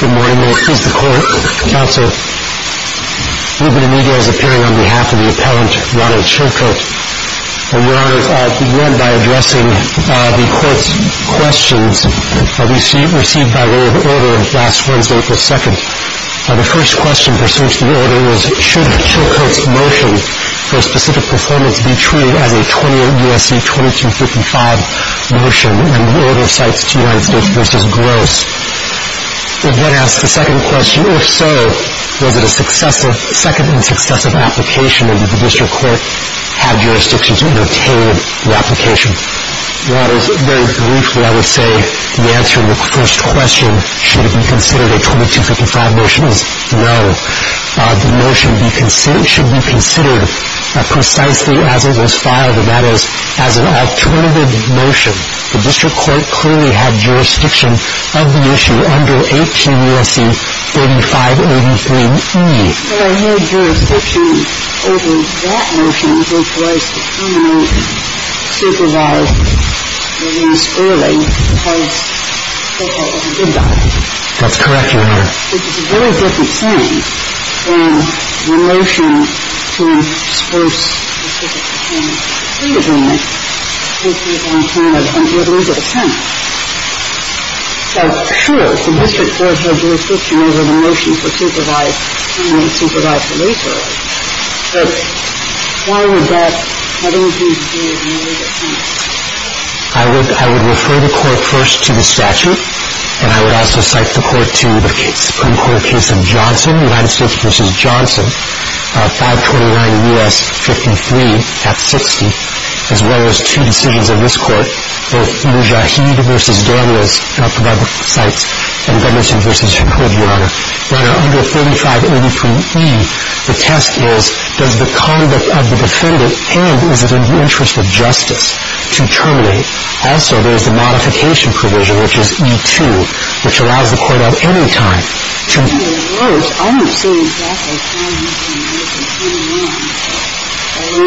Good morning, this is the court, counsel. We've been in e-mails appearing on behalf of the appellant, Ronald Chilcote, and we're going to begin by addressing the court's questions received by way of order last Wednesday, April 2nd. The first question pursuant to the order is, should Chilcote's motion for a specific performance be treated as a 28 U.S.C. 2255 motion, and would the order cite the United States v. Gross? If so, was it a second and successive application, or did the district court have jurisdiction to entertain the application? Very briefly, I would say the answer to the first question, should it be considered a 2255 motion, is no. The motion should be considered precisely as it was filed, and that is, as an alternative motion. The district court clearly had jurisdiction of the issue under 18 U.S.C. 3583e. But I need jurisdiction over that motion, which was to come out and supervise the use early, because Chilcote was a good guy. That's correct, Your Honor. I would refer the court first to the statute, and I would also cite the court to the case. The Supreme Court case of Johnson, United States v. Johnson, 529 U.S. 53 at 60, as well as two decisions of this court, both Mujahid v. Daniels, not to provide the cites, and Gunnarsson v. Hood, Your Honor. Under 3583e, the test is, does the conduct of the defendant, and is it in the interest of justice to terminate? Also, there's a modification provision, which is E2, which allows the court at any time to I don't see exactly what you're saying,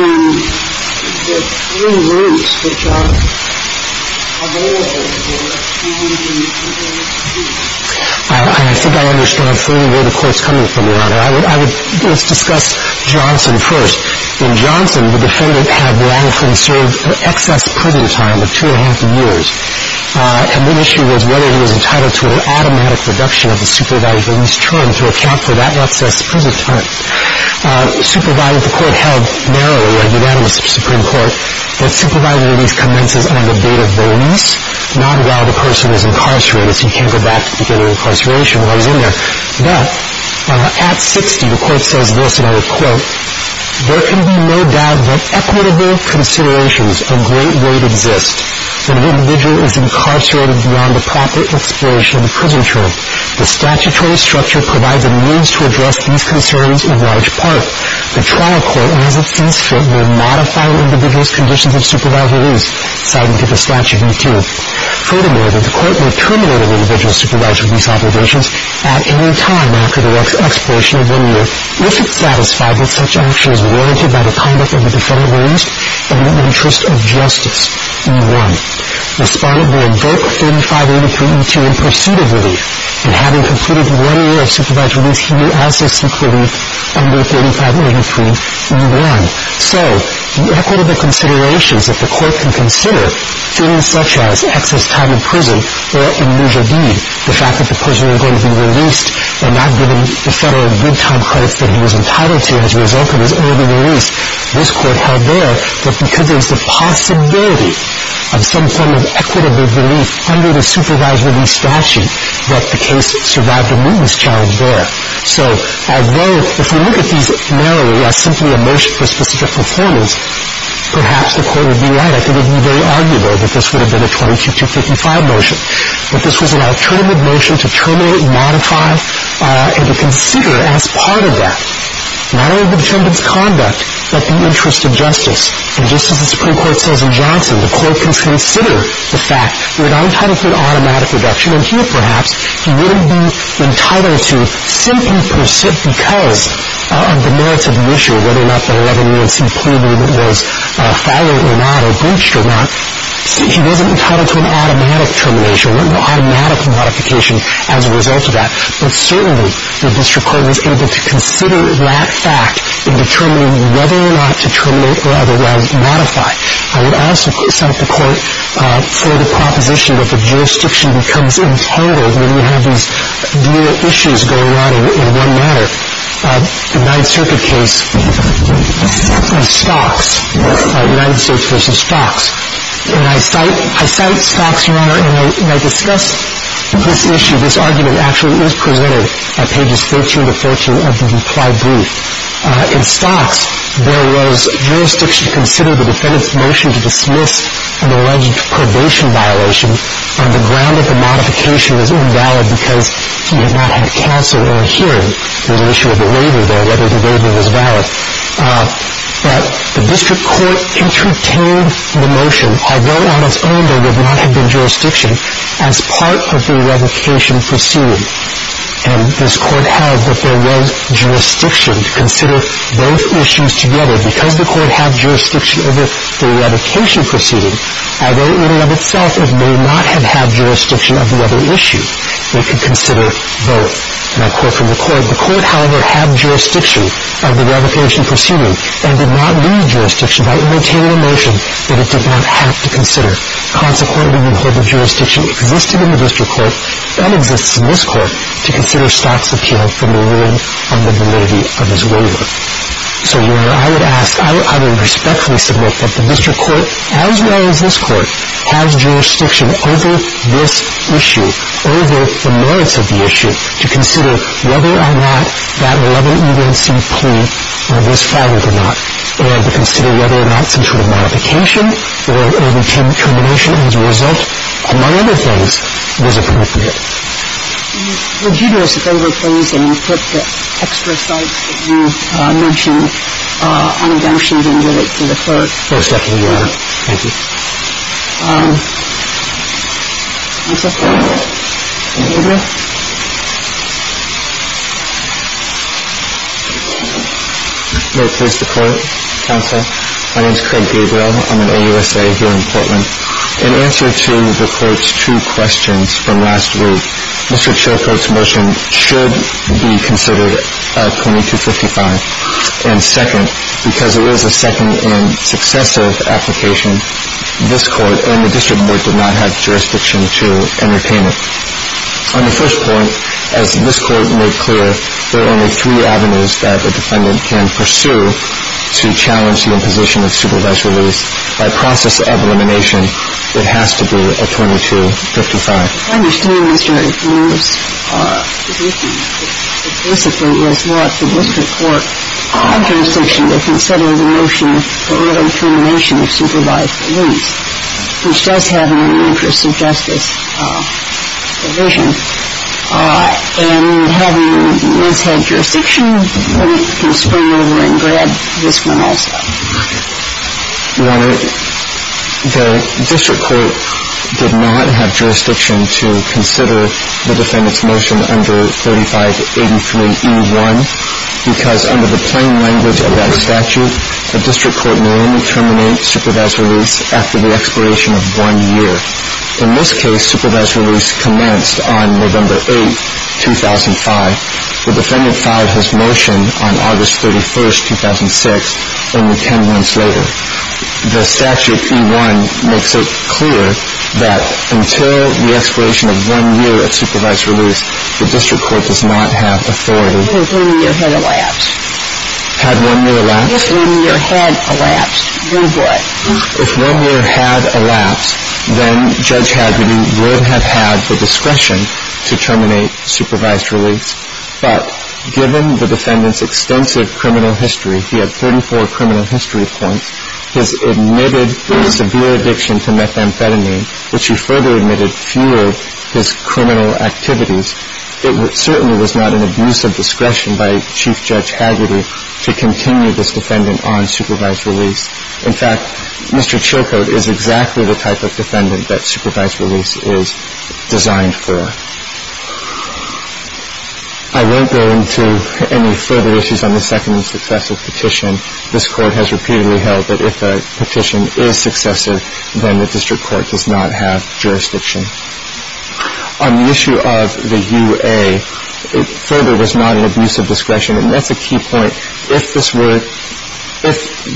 Your Honor. There are three words which are available to the court. I think I understand clearly where the court's coming from, Your Honor. Let's discuss Johnson first. In Johnson, the defendant had long-conserved excess privy time of two and a half years, and the issue was whether he was entitled to an automatic reduction of the supervised release term to account for that excess privy time. Supervised, the court held narrowly, like you had in the Supreme Court, that supervised release commences on the date of release, not while the person is incarcerated, so you can't go back to the beginning of incarceration while he's in there. Now, at 60, the court says this, and I would quote, there can be no doubt that equitable considerations of great weight exist when an individual is incarcerated beyond the proper expiration of the prison term. The statutory structure provides a means to address these concerns in large part. The trial court, as it seems fit, will modify an individual's conditions of supervised release, citing to the statute E2. Furthermore, the court will terminate an individual's supervised release obligations at any time after the expiration of one year if it's satisfied that such action is warranted by the conduct of the defendant released in the interest of justice, E1. Respondent will invoke 3583E2 in pursuit of relief, and having completed one year of supervised release, he will also seek relief under 3583E1. So the equitable considerations that the court can consider, things such as excess time in prison or an unusual deed, the fact that the person is going to be released and not given the federal good time credits that he was entitled to as a result of his early release, this court held there that because there's a possibility of some form of equitable relief under the supervised release statute, that the case survived a witness challenge there. So although if we look at these narrowly as simply a motion for specific performance, perhaps the court would be right. I think it would be very arguable that this would have been a 22255 motion. But this was an alternative motion to terminate, modify, and to consider as part of that, not only the defendant's conduct, but the interest of justice. And just as the Supreme Court says in Johnson, the court can consider the fact that if I'm entitled to an automatic reduction, here perhaps, he wouldn't be entitled to 50% because of the merits of the issue, whether or not the 11 years he pleaded was followed or not or breached or not. He wasn't entitled to an automatic termination or an automatic modification as a result of that. But certainly the district court was able to consider that fact in determining whether or not to terminate or otherwise modify. I would also cite the court for the proposition that the jurisdiction becomes entangled when you have these dual issues going on in one manner. The Ninth Circuit case of Stocks, United States v. Stocks. And I cite Stocks, Your Honor, and I discuss this issue, this argument actually is presented at pages 13 to 14 of the reply brief. In Stocks, there was jurisdiction to consider the defendant's motion to dismiss an alleged probation violation on the ground that the modification was invalid because he had not had counsel or hearing on the issue of the waiver there, whether the waiver was valid. But the district court entertained the motion, although on its own there would not have been jurisdiction, as part of the revocation pursued. And this court held that there was jurisdiction to consider both issues together. Because the court had jurisdiction over the revocation proceeding, although in and of itself it may not have had jurisdiction of the other issue, it could consider both. And I quote from the court, the court, however, had jurisdiction of the revocation proceeding and did not need jurisdiction by entertaining a motion that it did not have to consider. Consequently, we hold that jurisdiction existed in the district court and exists in this court to consider Stocks' appeal from the room of the validity of his waiver. So, Your Honor, I would ask, I would respectfully submit that the district court, as well as this court, has jurisdiction over this issue, over the merits of the issue, to consider whether or not that 11E1C plea was followed or not, or to consider whether or not some sort of modification or termination as a result, among other things, was appropriate. Would you do us a favor, please, and put the extra sites that you mentioned on a down sheet and give it to the court? Most definitely, Your Honor. Thank you. I'm sorry. Thank you. Craig Gabriel? May it please the Court, Counsel? My name is Craig Gabriel. I'm an AUSA here in Portland. In answer to the Court's two questions from last week, Mr. Chilcote's motion should be considered 2255 and second, because it is a second and successive application. This Court and the district court did not have jurisdiction to entertain it. On the first point, as this Court made clear, there are only three avenues that a defendant can pursue to challenge the imposition of supervised release. By process of elimination, it has to be a 2255. I understand, Mr. Lewis, that basically what the district court had jurisdiction to consider the motion for elimination of supervised release, which does have an interest of justice provision. And having this had jurisdiction, we can spring over and grab this one also. Your Honor, the district court did not have jurisdiction to consider the defendant's motion under 3583E1, because under the plain language of that statute, the district court may only terminate supervised release after the expiration of one year. In this case, supervised release commenced on November 8, 2005. The defendant filed his motion on August 31, 2006, only ten months later. The statute E1 makes it clear that until the expiration of one year of supervised release, the district court does not have authority. If one year had elapsed. Had one year elapsed? If one year had elapsed, we would. If one year had elapsed, then Judge Hadley would have had the discretion to terminate supervised release. But given the defendant's extensive criminal history, he had 34 criminal history points, his admitted severe addiction to methamphetamine, which he further admitted fueled his criminal activities. It certainly was not an abuse of discretion by Chief Judge Haggerty to continue this defendant on supervised release. In fact, Mr. Chilcote is exactly the type of defendant that supervised release is designed for. I won't go into any further issues on the second and successive petition. This Court has repeatedly held that if a petition is successive, then the district court does not have jurisdiction. On the issue of the UA, it further was not an abuse of discretion, and that's a key point. If this were,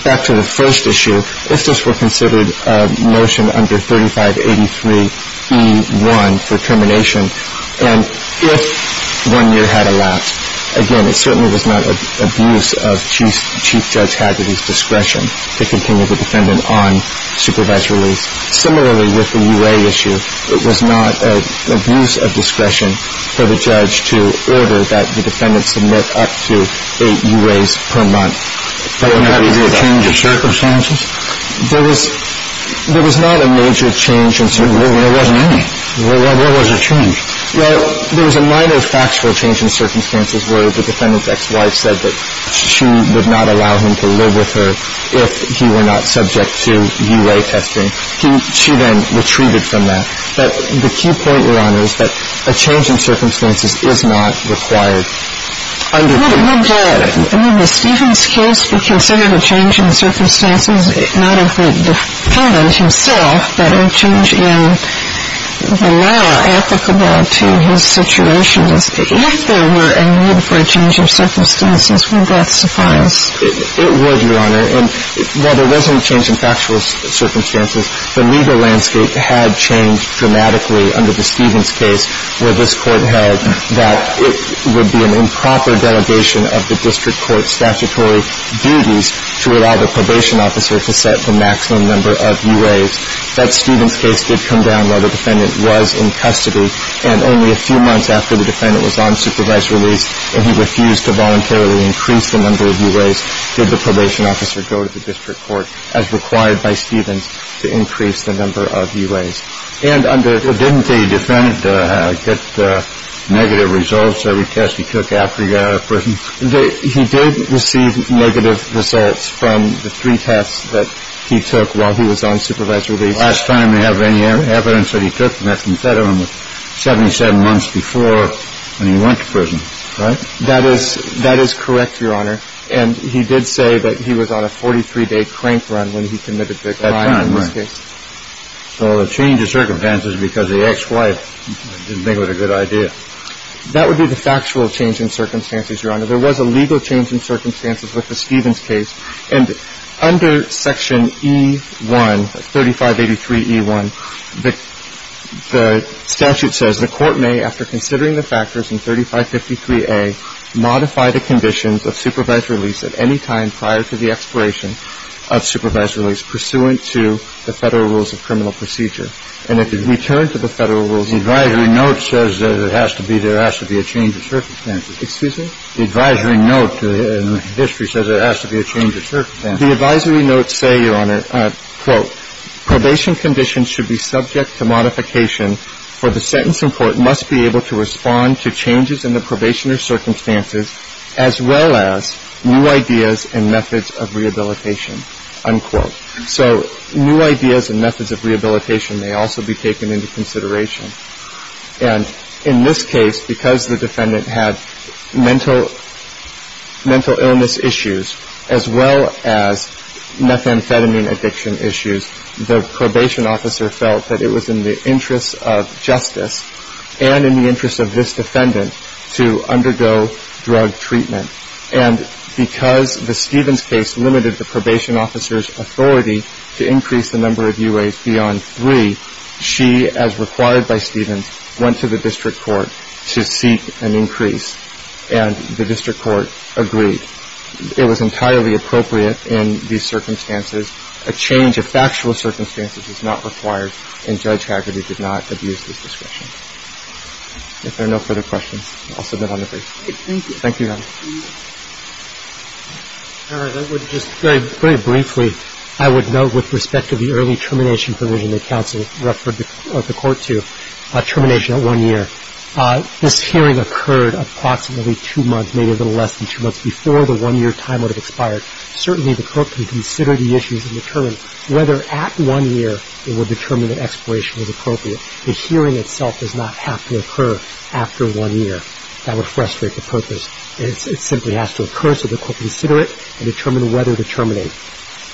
back to the first issue, if this were considered a motion under 3583E1 for termination, and if one year had elapsed, again, it certainly was not an abuse of Chief Judge Haggerty's discretion to continue the defendant on supervised release. Similarly, with the UA issue, it was not an abuse of discretion for the judge to order that the defendant submit up to eight UAs per month. There was not a major change in circumstances? There was not a major change in circumstances. There wasn't any. What was the change? Well, there was a minor factual change in circumstances where the defendant's ex-wife said that she would not allow him to live with her if he were not subject to UA testing. She then retreated from that. But the key point, Your Honor, is that a change in circumstances is not required under 3583E1. Would Stephen's case be considered a change in circumstances, not of the defendant himself, but a change in the law applicable to his situation? If there were a need for a change in circumstances, would that suffice? It would, Your Honor. And while there wasn't a change in factual circumstances, the legal landscape had changed dramatically under the Stephen's case where this Court held that it would be an improper delegation of the district court's statutory duties to allow the probation officer to set the maximum number of UAs. That Stephen's case did come down while the defendant was in custody, and only a few months after the defendant was on supervised release and he refused to voluntarily increase the number of UAs, did the probation officer go to the district court, as required by Stephen's, to increase the number of UAs. And didn't the defendant get negative results every test he took after he got out of prison? He did receive negative results from the three tests that he took while he was on supervised release. The last time they have any evidence that he took, and that's instead of him, was 77 months before when he went to prison, right? That is correct, Your Honor. And he did say that he was on a 43-day crank run when he committed the crime in this case. That time, right. So a change of circumstances because the ex-wife didn't think it was a good idea. That would be the factual change in circumstances, Your Honor. There was a legal change in circumstances with the Stephen's case. And under Section E1, 3583E1, the statute says, the court may, after considering the factors in 3553A, modify the conditions of supervised release at any time prior to the expiration of supervised release pursuant to the Federal Rules of Criminal Procedure. And if it's returned to the Federal Rules, the advisory note says there has to be a change of circumstances. Excuse me? The advisory note in the history says there has to be a change of circumstances. The advisory notes say, Your Honor, quote, probation conditions should be subject to modification, for the sentence in court must be able to respond to changes in the probation or circumstances as well as new ideas and methods of rehabilitation, unquote. So new ideas and methods of rehabilitation may also be taken into consideration. And in this case, because the defendant had mental illness issues as well as methamphetamine addiction issues, the probation officer felt that it was in the interest of justice and in the interest of this defendant to undergo drug treatment. And because the Stephen's case limited the probation officer's authority to increase the number of UAs beyond three, she, as required by Stephen's, went to the district court to seek an increase, and the district court agreed. It was entirely appropriate in these circumstances. A change of factual circumstances is not required, and Judge Hagerty did not abuse this discretion. If there are no further questions, I'll submit on the brief. Thank you. Thank you, Your Honor. All right. I would just very briefly, I would note with respect to the early termination provision that counsel referred the court to, termination at one year. This hearing occurred approximately two months, maybe a little less than two months, before the one-year time would have expired. Certainly the court can consider the issues and determine whether at one year it would determine that expiration was appropriate. The hearing itself does not have to occur after one year. That would frustrate the purpose. It simply has to occur so the court can consider it and determine whether to terminate.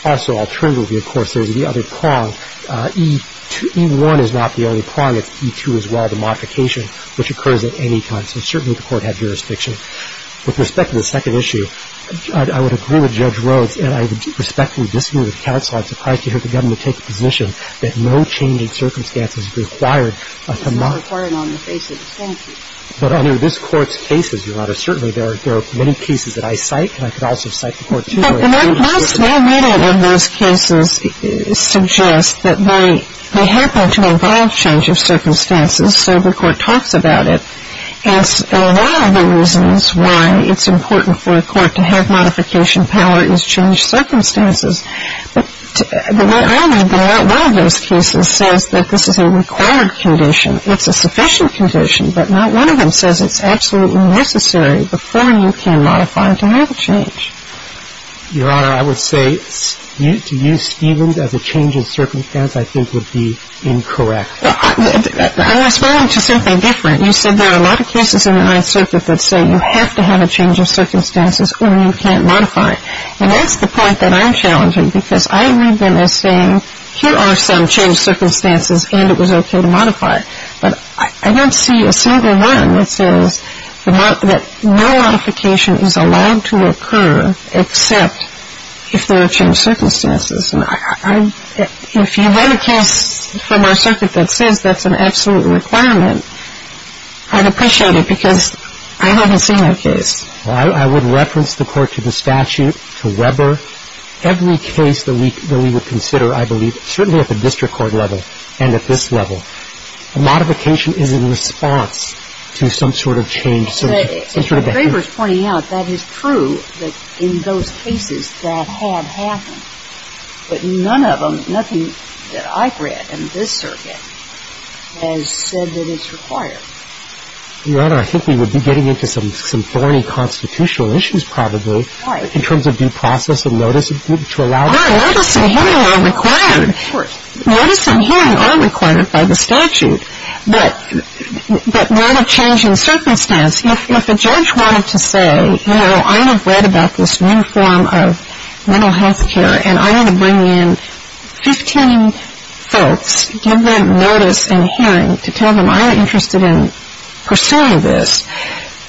Also, alternatively, of course, there's the other prong. E1 is not the only prong. It's E2 as well, the modification, which occurs at any time. So certainly the court had jurisdiction. With respect to the second issue, I would agree with Judge Rhodes, and I respectfully disagree with counsel. I'm surprised to hear the government take the position that no changing circumstances required to not ---- It's not recorded on the basis. But under this Court's cases, Your Honor, certainly there are many cases that I cite, and I could also cite the Court's ---- Well, most of those cases suggest that they happen to involve change of circumstances, so the Court talks about it. And one of the reasons why it's important for a court to have modification power is change circumstances. But what I read in one of those cases says that this is a required condition. It's a sufficient condition, but not one of them says it's absolutely necessary before you can modify to have a change. Your Honor, I would say to use Stevens as a change of circumstance I think would be incorrect. I'm responding to something different. You said there are a lot of cases in the Ninth Circuit that say you have to have a change of circumstances or you can't modify. And that's the point that I'm challenging, because I read them as saying, here are some change circumstances and it was okay to modify. But I don't see a single one that says that no modification is allowed to occur except if there are change circumstances. And if you read a case from our circuit that says that's an absolute requirement, I'd appreciate it, because I haven't seen that case. Well, I would reference the Court to the statute, to Weber. Every case that we would consider, I believe, certainly at the district court level and at this level, a modification is in response to some sort of change. If Weber's pointing out, that is true, that in those cases that have happened. But none of them, nothing that I've read in this circuit has said that it's required. Your Honor, I think we would be getting into some thorny constitutional issues probably. Right. In terms of due process and notice to allow it. Notice and hearing are required. Of course. Notice and hearing are required by the statute. But that would have changed in circumstance. If a judge wanted to say, you know, I have read about this new form of mental health care and I want to bring in 15 folks, give them notice and hearing to tell them I'm interested in pursuing this,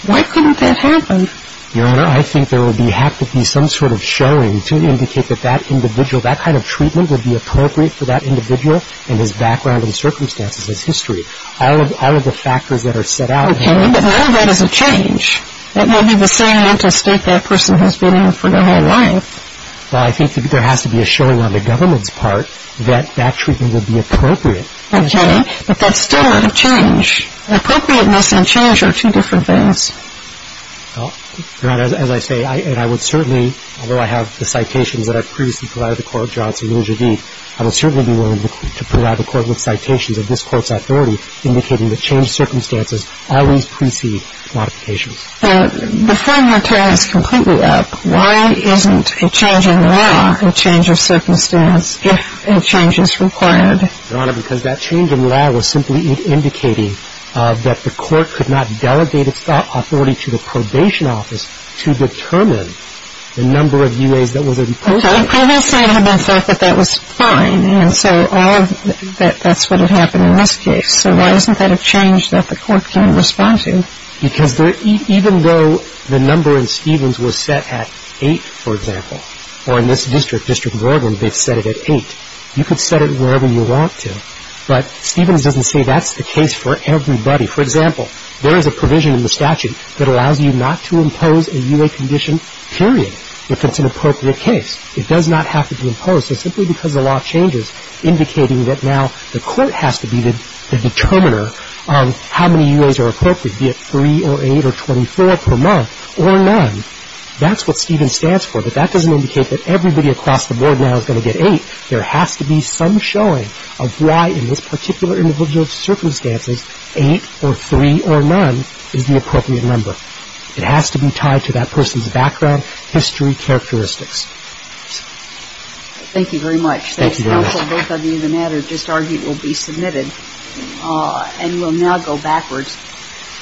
why couldn't that happen? Your Honor, I think there would have to be some sort of showing to indicate that that individual, that kind of treatment would be appropriate for that individual and his background and circumstances, his history. All of the factors that are set out. Okay. But none of that is a change. That may be the same mental state that person has been in for their whole life. Well, I think there has to be a showing on the government's part that that treatment would be appropriate. Okay. But that's still not a change. Appropriateness and change are two different things. Your Honor, as I say, and I would certainly, although I have the citations that I've previously provided the Court of Johnson and Javit, I would certainly be willing to provide the Court with citations of this Court's authority indicating that changed circumstances always precede modifications. Before your time is completely up, why isn't a change in law a change of circumstance if a change is required? Your Honor, because that change in law was simply indicating that the Court could not delegate its authority to the probation office to determine the number of U.A.s that was in place. Okay. I will say to myself that that was fine, and so all of that's what had happened in this case. So why isn't that a change that the Court can respond to? Because even though the number in Stevens was set at 8, for example, or in this district, District of Oregon, they've set it at 8. You could set it wherever you want to. But Stevens doesn't say that's the case for everybody. For example, there is a provision in the statute that allows you not to impose a U.A. condition, period, if it's an appropriate case. It does not have to be imposed. So simply because the law changes indicating that now the Court has to be the determiner of how many U.A.s are appropriate, be it 3 or 8 or 24 per month or none, that's what Stevens stands for. But that doesn't indicate that everybody across the board now is going to get 8. There has to be some showing of why, in this particular individual's circumstances, 8 or 3 or none is the appropriate number. It has to be tied to that person's background, history, characteristics. Thank you very much. Thank you very much. That's helpful. Both of you, the matter just argued will be submitted and will now go backwards.